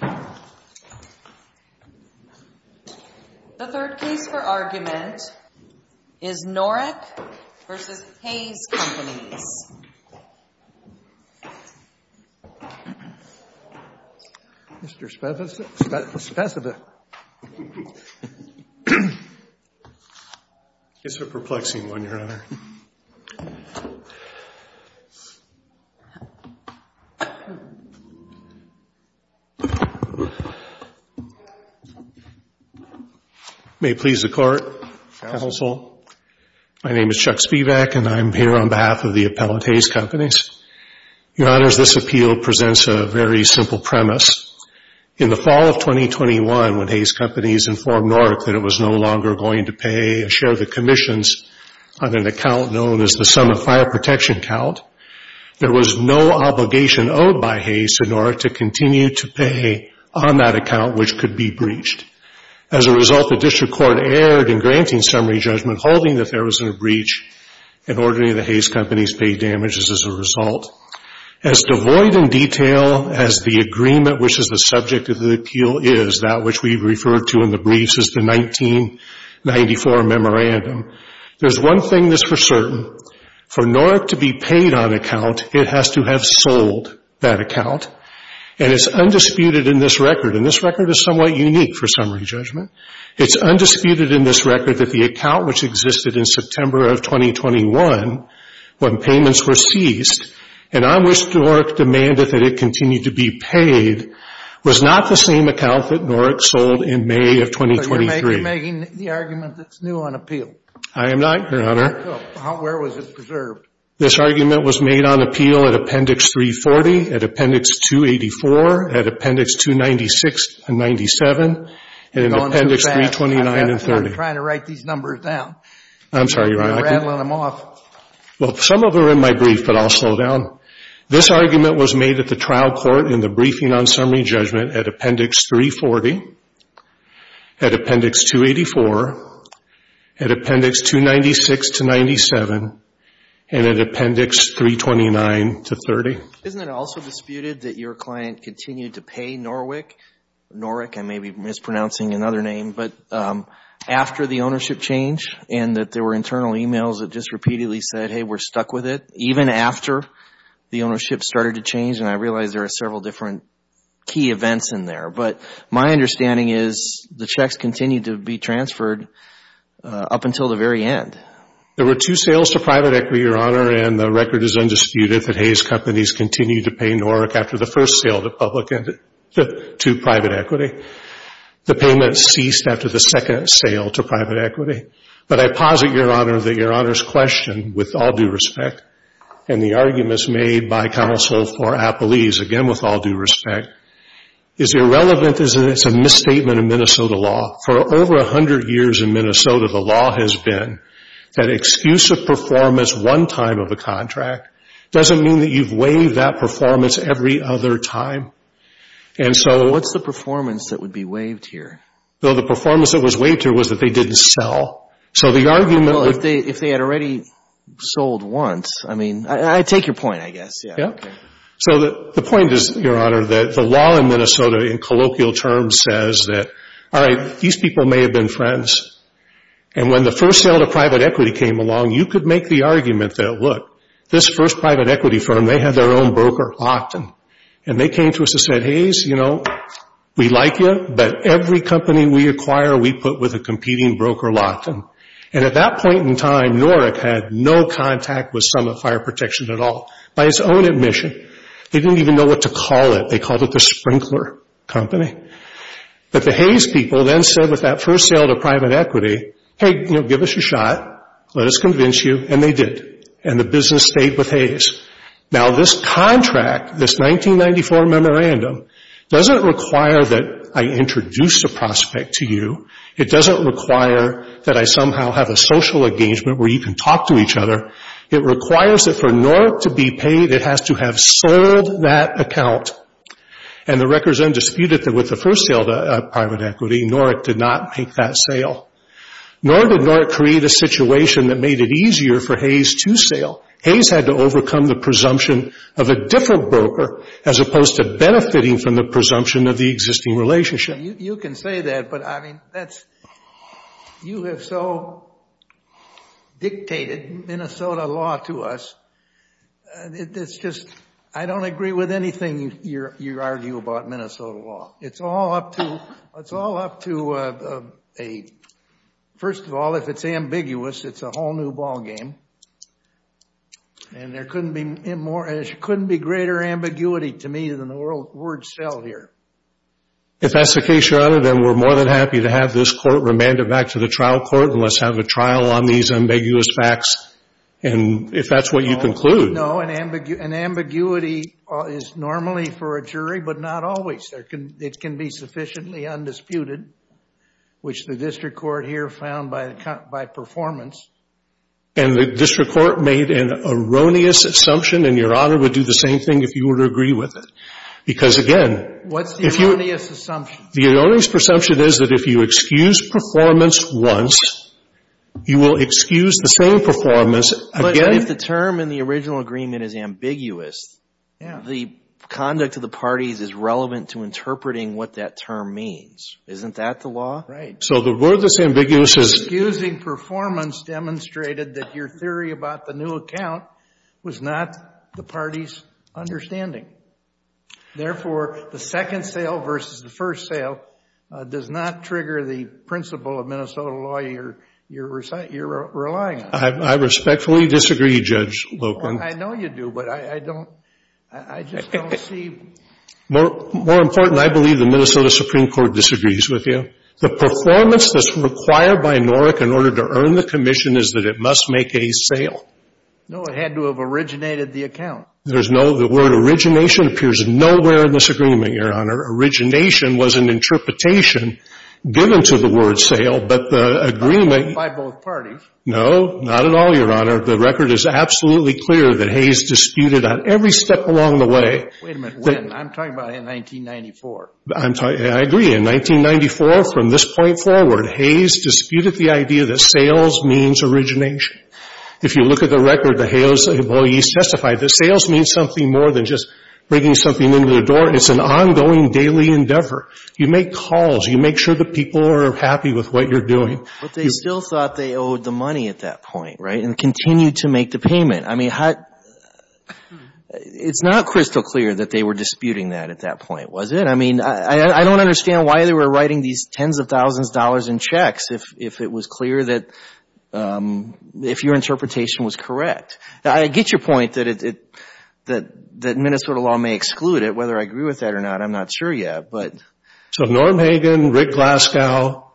The third case for argument is Norick v. Hays Companies. Mr. Spesiva. It's a perplexing one, Your Honor. May it please the Court, Counsel, my name is Chuck Spivak and I'm here on behalf of the appellant, Hays Companies. Your Honors, this appeal presents a very simple premise. In the fall of 2021, when Hays Companies informed Norick that it was no longer going to pay a share of the commissions on an account known as the sum of fire protection count, there was no obligation owed by Hays to Norick to continue to pay on that account which could be breached. As a result, the district court erred in granting summary judgment holding that there was a breach and ordering the Hays Companies pay damages as a result. As devoid in detail as the agreement which is the subject of the appeal is, that which we've referred to in the briefs as the 1994 memorandum, there's one thing that's for certain. For Norick to be paid on account, it has to have sold that account and it's undisputed in this record and this record is somewhat unique for summary judgment. It's undisputed in this record that the account which existed in September of 2021 when payments were ceased and on which Norick demanded that it continue to be paid was not the same account that Norick sold in May of 2023. But you're making the argument that's new on appeal. I am not, Your Honor. Where was it preserved? This argument was made on appeal at Appendix 340, at Appendix 284, at Appendix 296 and 97, and in Appendix 329 and 30. I'm trying to write these numbers down. I'm sorry, Your Honor. You're rattling them off. Well, some of them are in my brief, but I'll slow down. This argument was made at the trial court in the briefing on summary judgment at Appendix 340, at Appendix 284, at Appendix 296 to 97, and at Appendix 329 to 30. Isn't it also disputed that your client continued to pay Norick? Norick, I may be mispronouncing another name, but after the ownership change and that there were internal emails that just repeatedly said, hey, we're stuck with it, even after the ownership started to change, and I realize there are several different key events in there. But my understanding is the checks continued to be transferred up until the very end. There were two sales to private equity, Your Honor, and the record is undisputed that Hayes Companies continued to pay Norick after the first sale to private equity. The payment ceased after the second sale to private equity. But I posit, Your Honor, that Your Honor's question, with all due respect, and the arguments made by counsel for Appellese, again with all due respect, is irrelevant as it's a misstatement of Minnesota law. For over 100 years in Minnesota, the law has been that excuse of performance one time of a contract doesn't mean that you've waived that performance every other time. And so... What's the performance that would be waived here? Well, the performance that was waived here was that they didn't sell. So the argument... Well, if they had already sold once. I mean, I take your point, I guess. Yeah. So the point is, Your Honor, that the law in Minnesota, in colloquial terms, says that, all right, these people may have been friends. And when the first sale to private equity came along, you could make the argument that, look, this first private equity firm, they had their own broker, Lockton, and they came to us and said, Hays, you know, we like you, but every company we acquire, we put with a competing broker, Lockton. And at that point in time, Norick had no contact with Summit Fire Protection at all, by his own admission. They didn't even know what to call it. They called it the sprinkler company. But the Hays people then said, with that first sale to private equity, hey, you know, give us a shot, let us convince you, and they did. And the business stayed with Hays. Now, this contract, this 1994 memorandum, doesn't require that I introduce a prospect to you. It doesn't require that I somehow have a social engagement where you can talk to each other. It requires that for Norick to be paid, it has to have sold that account. And the records then disputed that with the first sale to private equity, Norick did not make that sale. Nor did Norick create a situation that made it easier for Hays to sale. Hays had to overcome the presumption of a different broker, as opposed to benefiting from the presumption of the existing relationship. You can say that, but I mean, that's, you have so dictated Minnesota law to us, it's just, I don't agree with anything you argue about Minnesota law. It's all up to, it's all up to a, first of all, if it's ambiguous, it's a whole new ballgame. And there couldn't be more, there couldn't be greater ambiguity to me than the word sell here. If that's the case, Your Honor, then we're more than happy to have this court remanded back to the trial court and let's have a trial on these ambiguous facts. And if that's what you conclude. No, an ambiguity is normally for a jury, but not always. It can be sufficiently undisputed, which the district court here found by performance. And the district court made an erroneous assumption, and Your Honor would do the same thing if you were to agree with it. Because again. What's the erroneous assumption? The erroneous presumption is that if you excuse performance once, you will excuse the same performance again. But if the term in the original agreement is ambiguous, the conduct of the parties is relevant to interpreting what that term means. Isn't that the law? Right. So the word that's ambiguous is. Excusing performance demonstrated that your theory about the new account was not the party's understanding. Therefore, the second sale versus the first sale does not trigger the principle of Minnesota law you're relying on. I respectfully disagree, Judge Lopen. I know you do, but I don't, I just don't see. More important, I believe the Minnesota Supreme Court disagrees with you. The performance that's required by NORC in order to earn the commission is that it must make a sale. No, it had to have originated the account. There's no, the word origination appears nowhere in this agreement, Your Honor. Origination was an interpretation given to the word sale, but the agreement. By both parties. No, not at all, Your Honor. The record is absolutely clear that Hayes disputed on every step along the way. Wait a minute, when? I'm talking about in 1994. I agree. In 1994, from this point forward, Hayes disputed the idea that sales means origination. If you look at the record, the Hayes employees testified that sales means something more than just bringing something into the door. It's an ongoing daily endeavor. You make calls. You make sure the people are happy with what you're doing. But they still thought they owed the money at that point, right, and continued to make the payment. I mean, it's not crystal clear that they were disputing that at that point, was it? I mean, I don't understand why they were writing these tens of thousands of dollars in checks if it was clear that, if your interpretation was correct. Now, I get your point that Minnesota law may exclude it. Whether I agree with that or not, I'm not sure yet, but. So Norm Hagen, Rick Glasgow,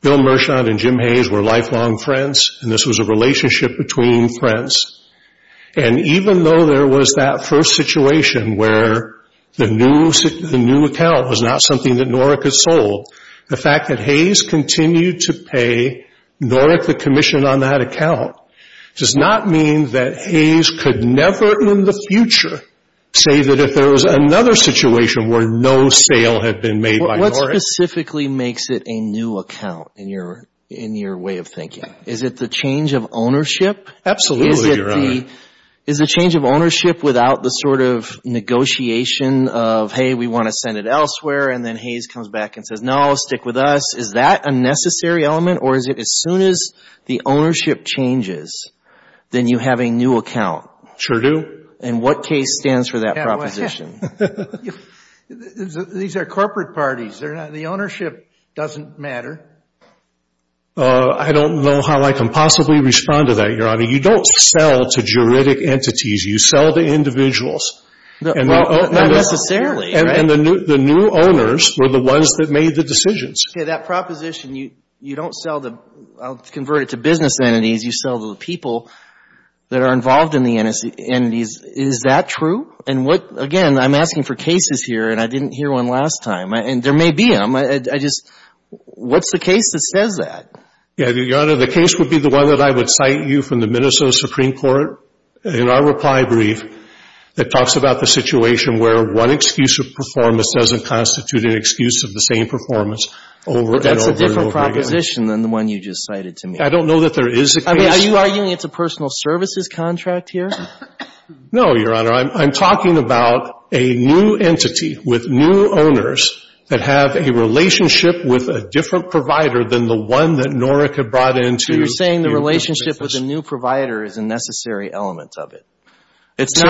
Bill Merchant, and Jim Hayes were lifelong friends, and this was a relationship between friends. And even though there was that first situation where the new account was not something that Norrick had sold, the fact that Hayes continued to pay Norrick the commission on that account does not mean that Hayes could never in the future say that if there was another situation where no sale had been made by Norrick. What specifically makes it a new account in your way of thinking? Is it the change of ownership? Absolutely, Your Honor. Is it the change of ownership without the sort of negotiation of, hey, we want to send it elsewhere, and then Hayes comes back and says, no, stick with us. Is that a necessary element, or is it as soon as the ownership changes, then you have a new account? Sure do. And what case stands for that proposition? These are corporate parties. The ownership doesn't matter. I don't know how I can possibly respond to that, Your Honor. You don't sell to juridic entities. You sell to individuals. Not necessarily. And the new owners were the ones that made the decisions. Okay, that proposition, you don't sell to, I'll convert it to business entities. You sell to the people that are involved in the entities. Is that true? And again, I'm asking for cases here, and I didn't hear one last time. And there may be them. I just, what's the case that says that? Your Honor, the case would be the one that I would cite you from the Minnesota Supreme Court in our reply brief that talks about the situation where one excuse of performance doesn't constitute an excuse of the same performance over and over and over again. That's a different proposition than the one you just cited to me. I don't know that there is a case. Are you arguing it's a personal services contract here? No, Your Honor. I'm talking about a new entity with new owners that have a relationship with a different provider than the one that Norik had brought into. So you're saying the relationship with the new provider is a necessary element of it. It's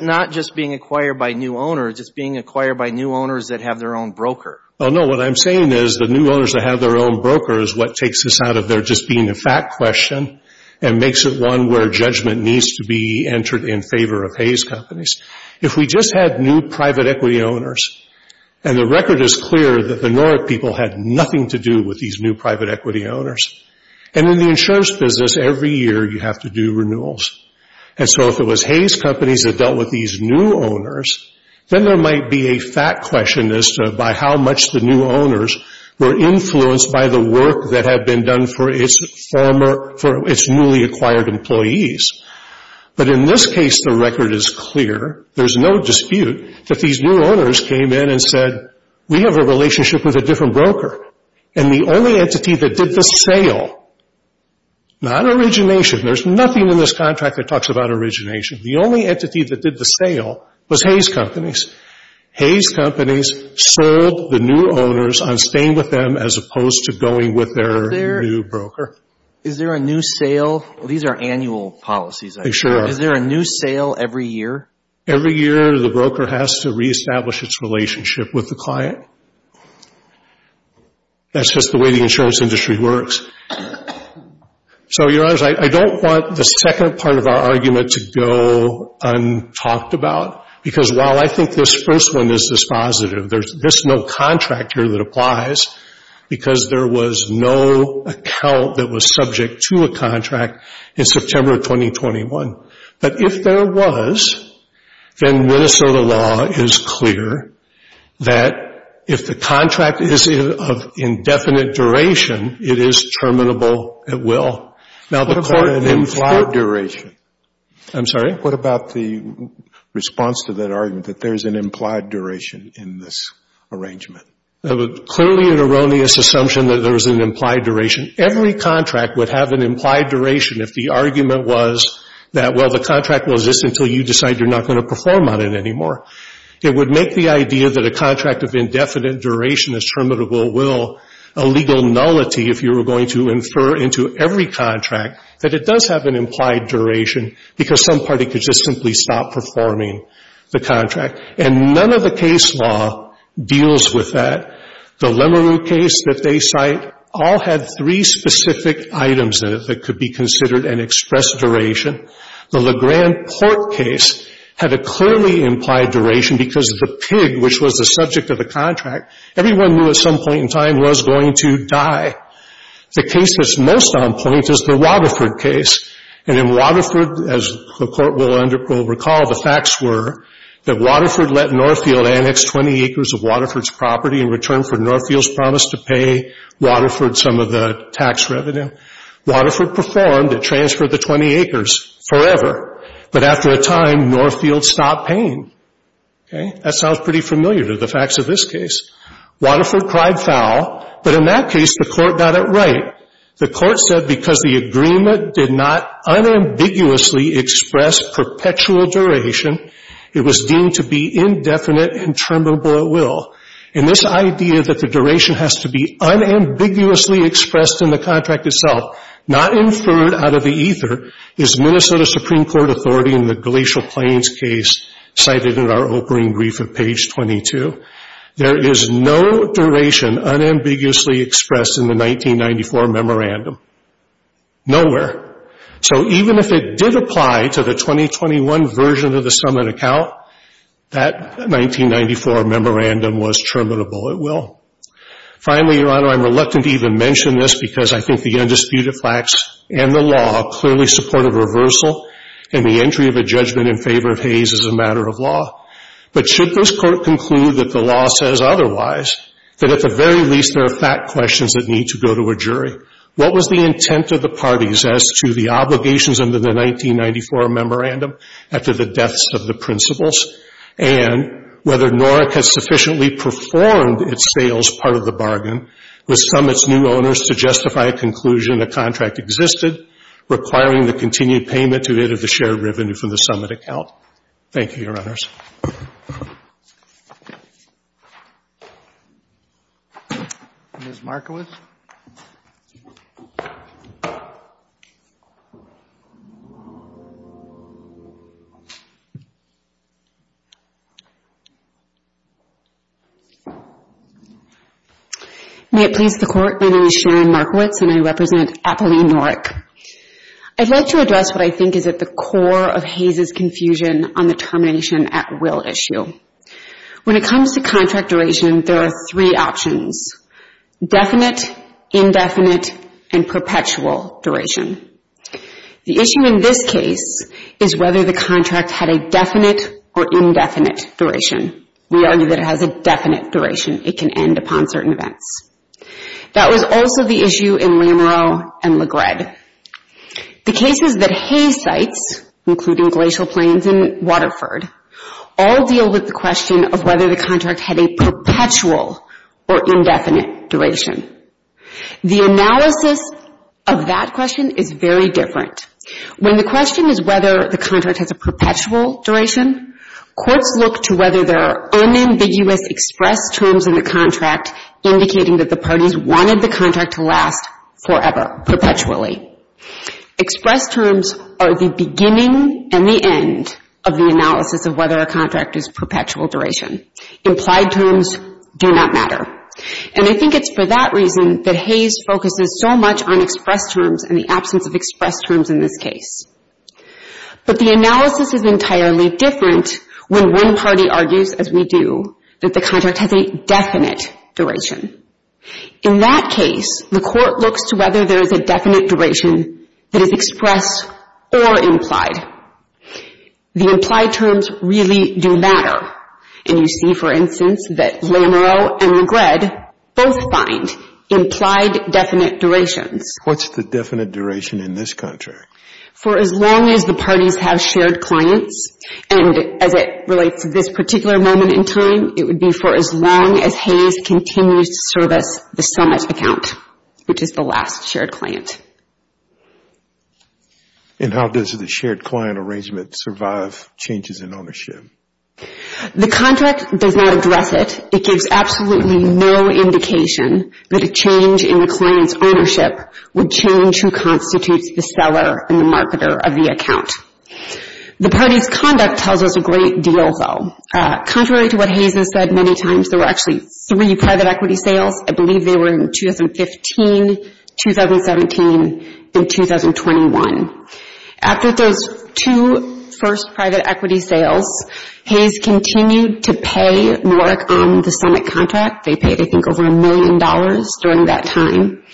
not just being acquired by new owners. It's being acquired by new owners that have their own broker. No, what I'm saying is the new owners that have their own broker is what takes this out of there just being a fact question and makes it one where judgment needs to be entered in favor of Hays Companies. If we just had new private equity owners, and the record is clear that the Norik people had nothing to do with these new private equity owners, and in the insurance business every year you have to do renewals. And so if it was Hays Companies that dealt with these new owners, then there might be a fact question as to by how much the new owners were influenced by the work that had been done for its newly acquired employees. But in this case, the record is clear. There's no dispute that these new owners came in and said, we have a relationship with a different broker. And the only entity that did the sale, not origination. There's nothing in this contract that talks about origination. The only entity that did the sale was Hays Companies. Hays Companies served the new owners on staying with them as opposed to going with their new broker. Is there a new sale? These are annual policies. They sure are. Is there a new sale every year? Every year the broker has to reestablish its relationship with the client. That's just the way the insurance industry works. So, Your Honors, I don't want the second part of our argument to go untalked about. Because while I think this first one is dispositive, there's no contract here that applies because there was no account that was subject to a contract in September of 2021. But if there was, then Minnesota law is clear that if the contract is of indefinite duration, it is terminable at will. What about an implied duration? I'm sorry? What about the response to that argument that there's an implied duration in this arrangement? Clearly an erroneous assumption that there's an implied duration. Every contract would have an implied duration if the argument was that, well, the contract will exist until you decide you're not going to perform on it anymore. It would make the idea that a contract of indefinite duration is terminable at will a legal nullity if you were going to infer into every contract that it does have an implied duration because some party could just simply stop performing the contract. And none of the case law deals with that. The Lemerue case that they cite all had three specific items in it that could be considered an express duration. The LeGrand Port case had a clearly implied duration because the pig, which was the subject of the contract, everyone knew at some point in time was going to die. The case that's most on point is the Waterford case. And in Waterford, as the Court will recall, the facts were that Waterford let Northfield annex 20 acres of Waterford's property in return for Northfield's promise to pay Waterford some of the tax revenue. Waterford performed. It transferred the 20 acres forever. But after a time, Northfield stopped paying. That sounds pretty familiar to the facts of this case. Waterford cried foul. But in that case, the Court got it right. The Court said because the agreement did not unambiguously express perpetual duration, it was deemed to be indefinite and terminable at will. And this idea that the duration has to be unambiguously expressed in the contract itself, not inferred out of the ether, is Minnesota Supreme Court authority in the Glacial Plains case cited in our opening brief at page 22. There is no duration unambiguously expressed in the 1994 memorandum. Nowhere. So even if it did apply to the 2021 version of the summit account, that 1994 memorandum was terminable at will. Finally, Your Honor, I'm reluctant to even mention this because I think the undisputed facts and the law clearly support a reversal and the entry of a judgment in favor of Hayes is a matter of law. But should this Court conclude that the law says otherwise, that at the very least there are fact questions that need to go to a jury? What was the intent of the parties as to the obligations under the 1994 memorandum after the deaths of the principals? And whether NORC has sufficiently performed its sales part of the bargain with summit's new owners to justify a conclusion the contract existed, requiring the continued payment to it of the shared revenue from the summit account? Thank you, Your Honors. Ms. Markowitz? May it please the Court, my name is Sharon Markowitz and I represent Apolline NORC. I'd like to address what I think is at the core of Hayes' confusion on the termination at will issue. When it comes to contract duration, there are three options. Definite, indefinite, and perpetual duration. The issue in this case is whether the contract had a definite or indefinite duration. We argue that it has a definite duration. It can end upon certain events. That was also the issue in Lamereau and LaGred. The cases that Hayes cites, including Glacial Plains and Waterford, all deal with the question of whether the contract had a perpetual or indefinite duration. The analysis of that question is very different. When the question is whether the contract has a perpetual duration, courts look to whether there are unambiguous expressed terms in the contract indicating that the parties wanted the contract to last forever, perpetually. Expressed terms are the beginning and the end of the analysis of whether a contract is perpetual duration. Implied terms do not matter. And I think it's for that reason that Hayes focuses so much on expressed terms and the absence of expressed terms in this case. But the analysis is entirely different when one party argues, as we do, that the contract has a definite duration. In that case, the court looks to whether there is a definite duration that is expressed or implied. The implied terms really do matter. And you see, for instance, that Lamereau and LaGred both find implied definite durations. What's the definite duration in this contract? For as long as the parties have shared clients, and as it relates to this particular moment in time, it would be for as long as Hayes continues to service the SoMuch account, which is the last shared client. And how does the shared client arrangement survive changes in ownership? The contract does not address it. It gives absolutely no indication that a change in the client's ownership would change who constitutes the seller and the marketer of the account. The party's conduct tells us a great deal, though. Contrary to what Hayes has said many times, there were actually three private equity sales. I believe they were in 2015, 2017, and 2021. After those two first private equity sales, Hayes continued to pay more on the SoMuch contract. They paid, I think, over a million dollars during that time.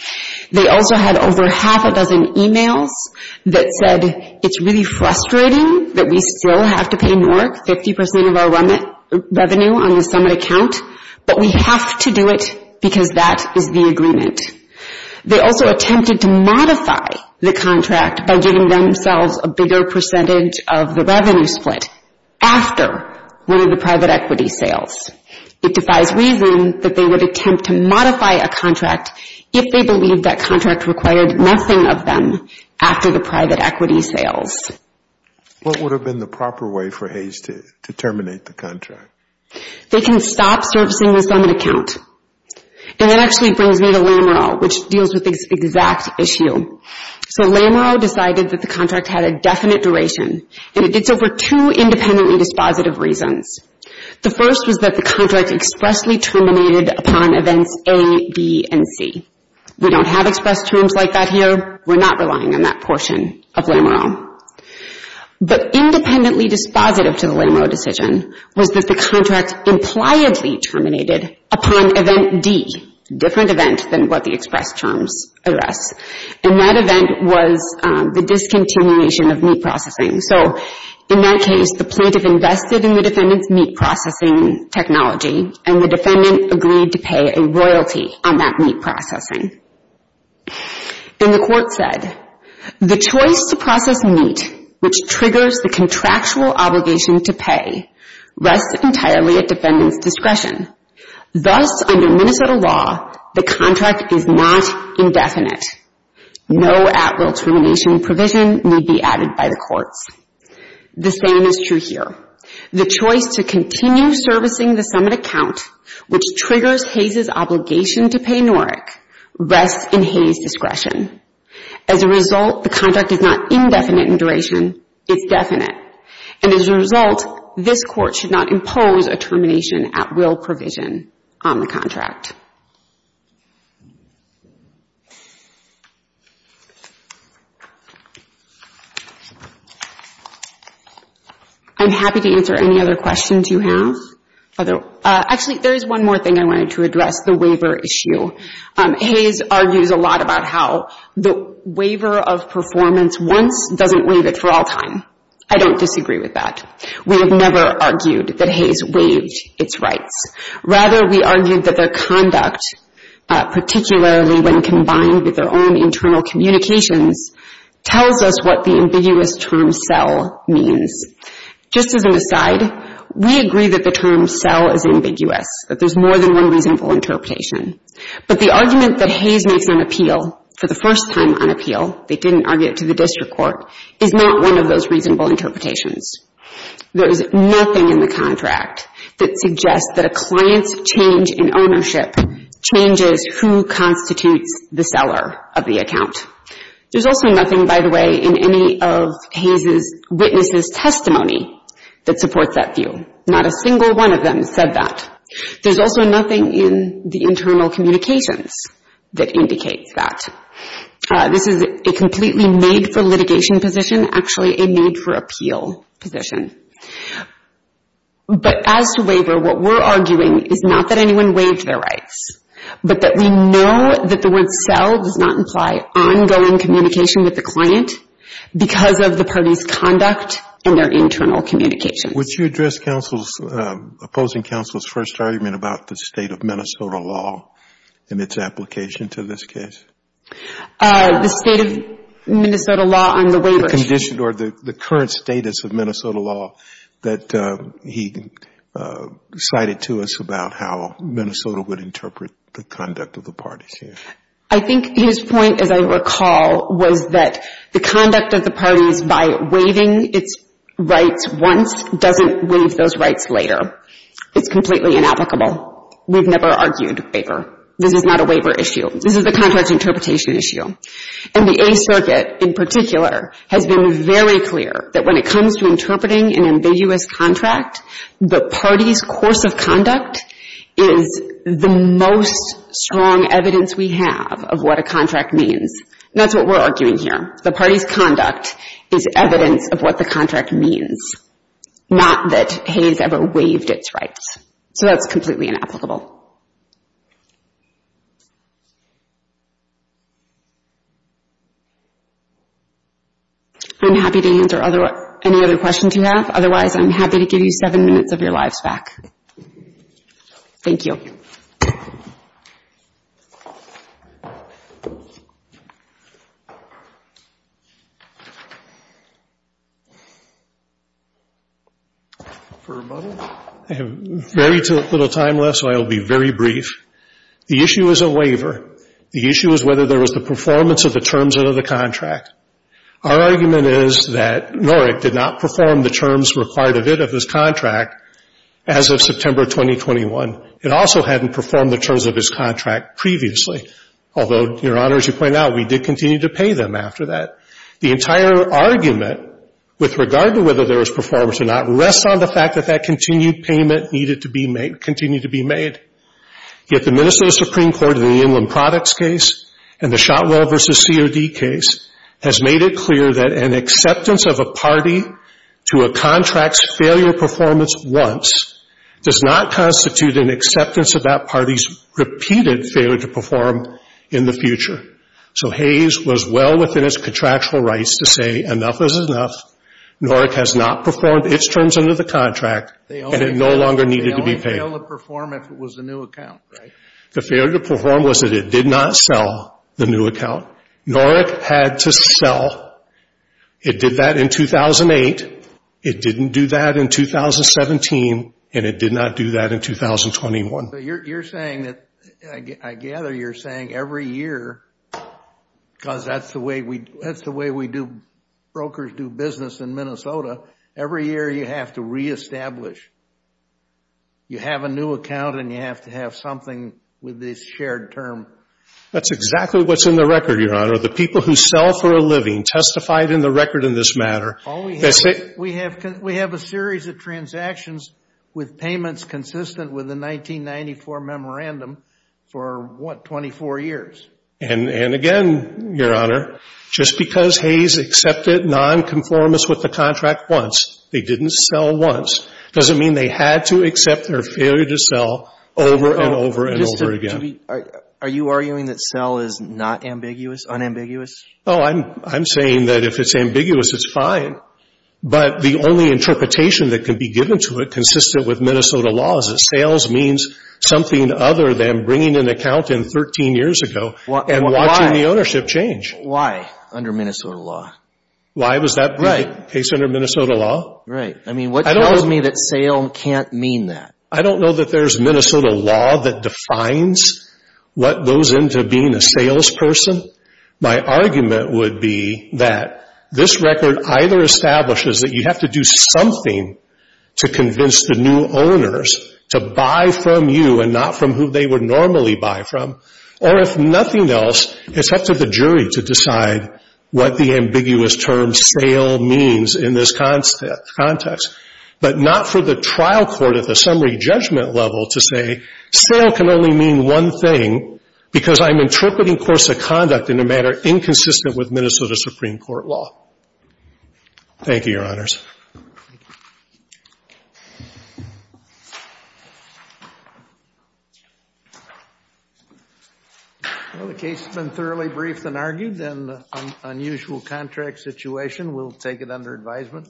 They also had over half a dozen emails that said, it's really frustrating that we still have to pay more, 50% of our revenue on the SoMuch account, but we have to do it because that is the agreement. They also attempted to modify the contract by giving themselves a bigger percentage of the revenue split after one of the private equity sales. It defies reason that they would attempt to modify a contract if they believed that contract required nothing of them after the private equity sales. What would have been the proper way for Hayes to terminate the contract? They can stop servicing the SoMuch account. That actually brings me to Lamereau, which deals with this exact issue. Lamereau decided that the contract had a definite duration, and it did so for two independently dispositive reasons. The first was that the contract expressly terminated upon events A, B, and C. We don't have express terms like that here. We're not relying on that portion of Lamereau. But independently dispositive to the Lamereau decision was that the contract impliedly terminated upon event D, a different event than what the express terms address. And that event was the discontinuation of meat processing. So in that case, the plaintiff invested in the defendant's meat processing technology, and the defendant agreed to pay a royalty on that meat processing. And the court said, The choice to process meat, which triggers the contractual obligation to pay, rests entirely at defendant's discretion. Thus, under Minnesota law, the contract is not indefinite. No at-will termination provision will be added by the courts. The same is true here. The choice to continue servicing the summit account, which triggers Hayes' obligation to pay Norrick, rests in Hayes' discretion. As a result, the contract is not indefinite in duration. It's definite. And as a result, this court should not impose a termination at-will provision on the contract. I'm happy to answer any other questions you have. Actually, there is one more thing I wanted to address, the waiver issue. Hayes argues a lot about how the waiver of performance once doesn't waive it for all time. I don't disagree with that. We have never argued that Hayes waived its rights. Rather, we argued that their conduct, particularly when combined with their own internal communications, tells us what the ambiguous term sell means. Just as an aside, we agree that the term sell is ambiguous, that there's more than one reasonable interpretation. But the argument that Hayes makes on appeal, for the first time on appeal, they didn't argue it to the district court, is not one of those reasonable interpretations. There is nothing in the contract that suggests that a client's change in ownership changes who constitutes the seller of the account. There's also nothing, by the way, in any of Hayes' witnesses' testimony that supports that view. Not a single one of them said that. There's also nothing in the internal communications that indicates that. This is a completely made-for-litigation position, actually a made-for-appeal position. But as to waiver, what we're arguing is not that anyone waived their rights, but that we know that the word sell does not imply ongoing communication with the client because of the party's conduct and their internal communications. Would you address opposing counsel's first argument about the state of Minnesota law and its application to this case? The state of Minnesota law on the waiver. The condition or the current status of Minnesota law that he cited to us about how Minnesota would interpret the conduct of the parties here. I think his point, as I recall, was that the conduct of the parties by waiving its rights once doesn't waive those rights later. It's completely inapplicable. We've never argued waiver. This is not a waiver issue. This is a contract interpretation issue. And the Eighth Circuit, in particular, has been very clear that when it comes to interpreting an ambiguous contract, the party's course of conduct is the most strong evidence we have of what a contract means. That's what we're arguing here. The party's conduct is evidence of what the contract means, not that he's ever waived its rights. So that's completely inapplicable. I'm happy to answer any other questions you have. Otherwise, I'm happy to give you seven minutes of your lives back. Thank you. I have very little time left, so I will be very brief. The issue is a waiver. The issue is whether there was the performance of the terms of the contract. Our argument is that Norick did not perform the terms required of it, of his contract, as of September 2021. It also hadn't performed the terms of his contract previously. Although, Your Honor, as you point out, we did continue to pay them after that. The entire argument with regard to whether there was performance or not rests on the fact that that continued payment needed to be made, continued to be made. Yet the Minnesota Supreme Court in the Inland Products case and the Shotwell v. C.O.D. case has made it clear that an acceptance of a party to a contract's failure performance once does not constitute an acceptance of that party's repeated failure to perform in the future. So Hayes was well within its contractual rights to say, enough is enough. Norick has not performed its terms under the contract and it no longer needed to be paid. They only failed to perform if it was a new account, right? The failure to perform was that it did not sell the new account. Norick had to sell. It did that in 2008. It didn't do that in 2017, and it did not do that in 2021. You're saying that, I gather you're saying every year because that's the way brokers do business in Minnesota, every year you have to reestablish. You have a new account and you have to have something with this shared term. That's exactly what's in the record, your honor. The people who sell for a living testified in the record in this matter. We have a series of transactions with payments consistent with the 1994 memorandum for, what, 24 years. And again, your honor, just because they accepted non-conformance with the contract once, they didn't sell once, doesn't mean they had to accept their failure to sell over and over and over again. Are you arguing that sell is not ambiguous, unambiguous? Oh, I'm saying that if it's ambiguous it's fine. But the only interpretation that can be given to it consistent with Minnesota laws is sales means something other than bringing an account in 13 years ago and watching the ownership change. Why under Minnesota law? Why was that case under Minnesota law? Right. I mean what tells me that sale can't mean that? I don't know that there's Minnesota law that defines what goes into being a sales person. My argument would be that this record either establishes that you have to do something to convince the new owners to buy from you and not from who they would normally buy from. Or if nothing else, it's up to the jury to decide what the ambiguous term sale means in this context. But not for the trial court at the summary judgment level to say sale can only mean one thing because I'm interpreting course of conduct in a manner inconsistent with Minnesota Supreme Court law. Thank you, Your Honors. Well the case has been thoroughly briefed and argued and the unusual contract situation. We'll take it under advisement.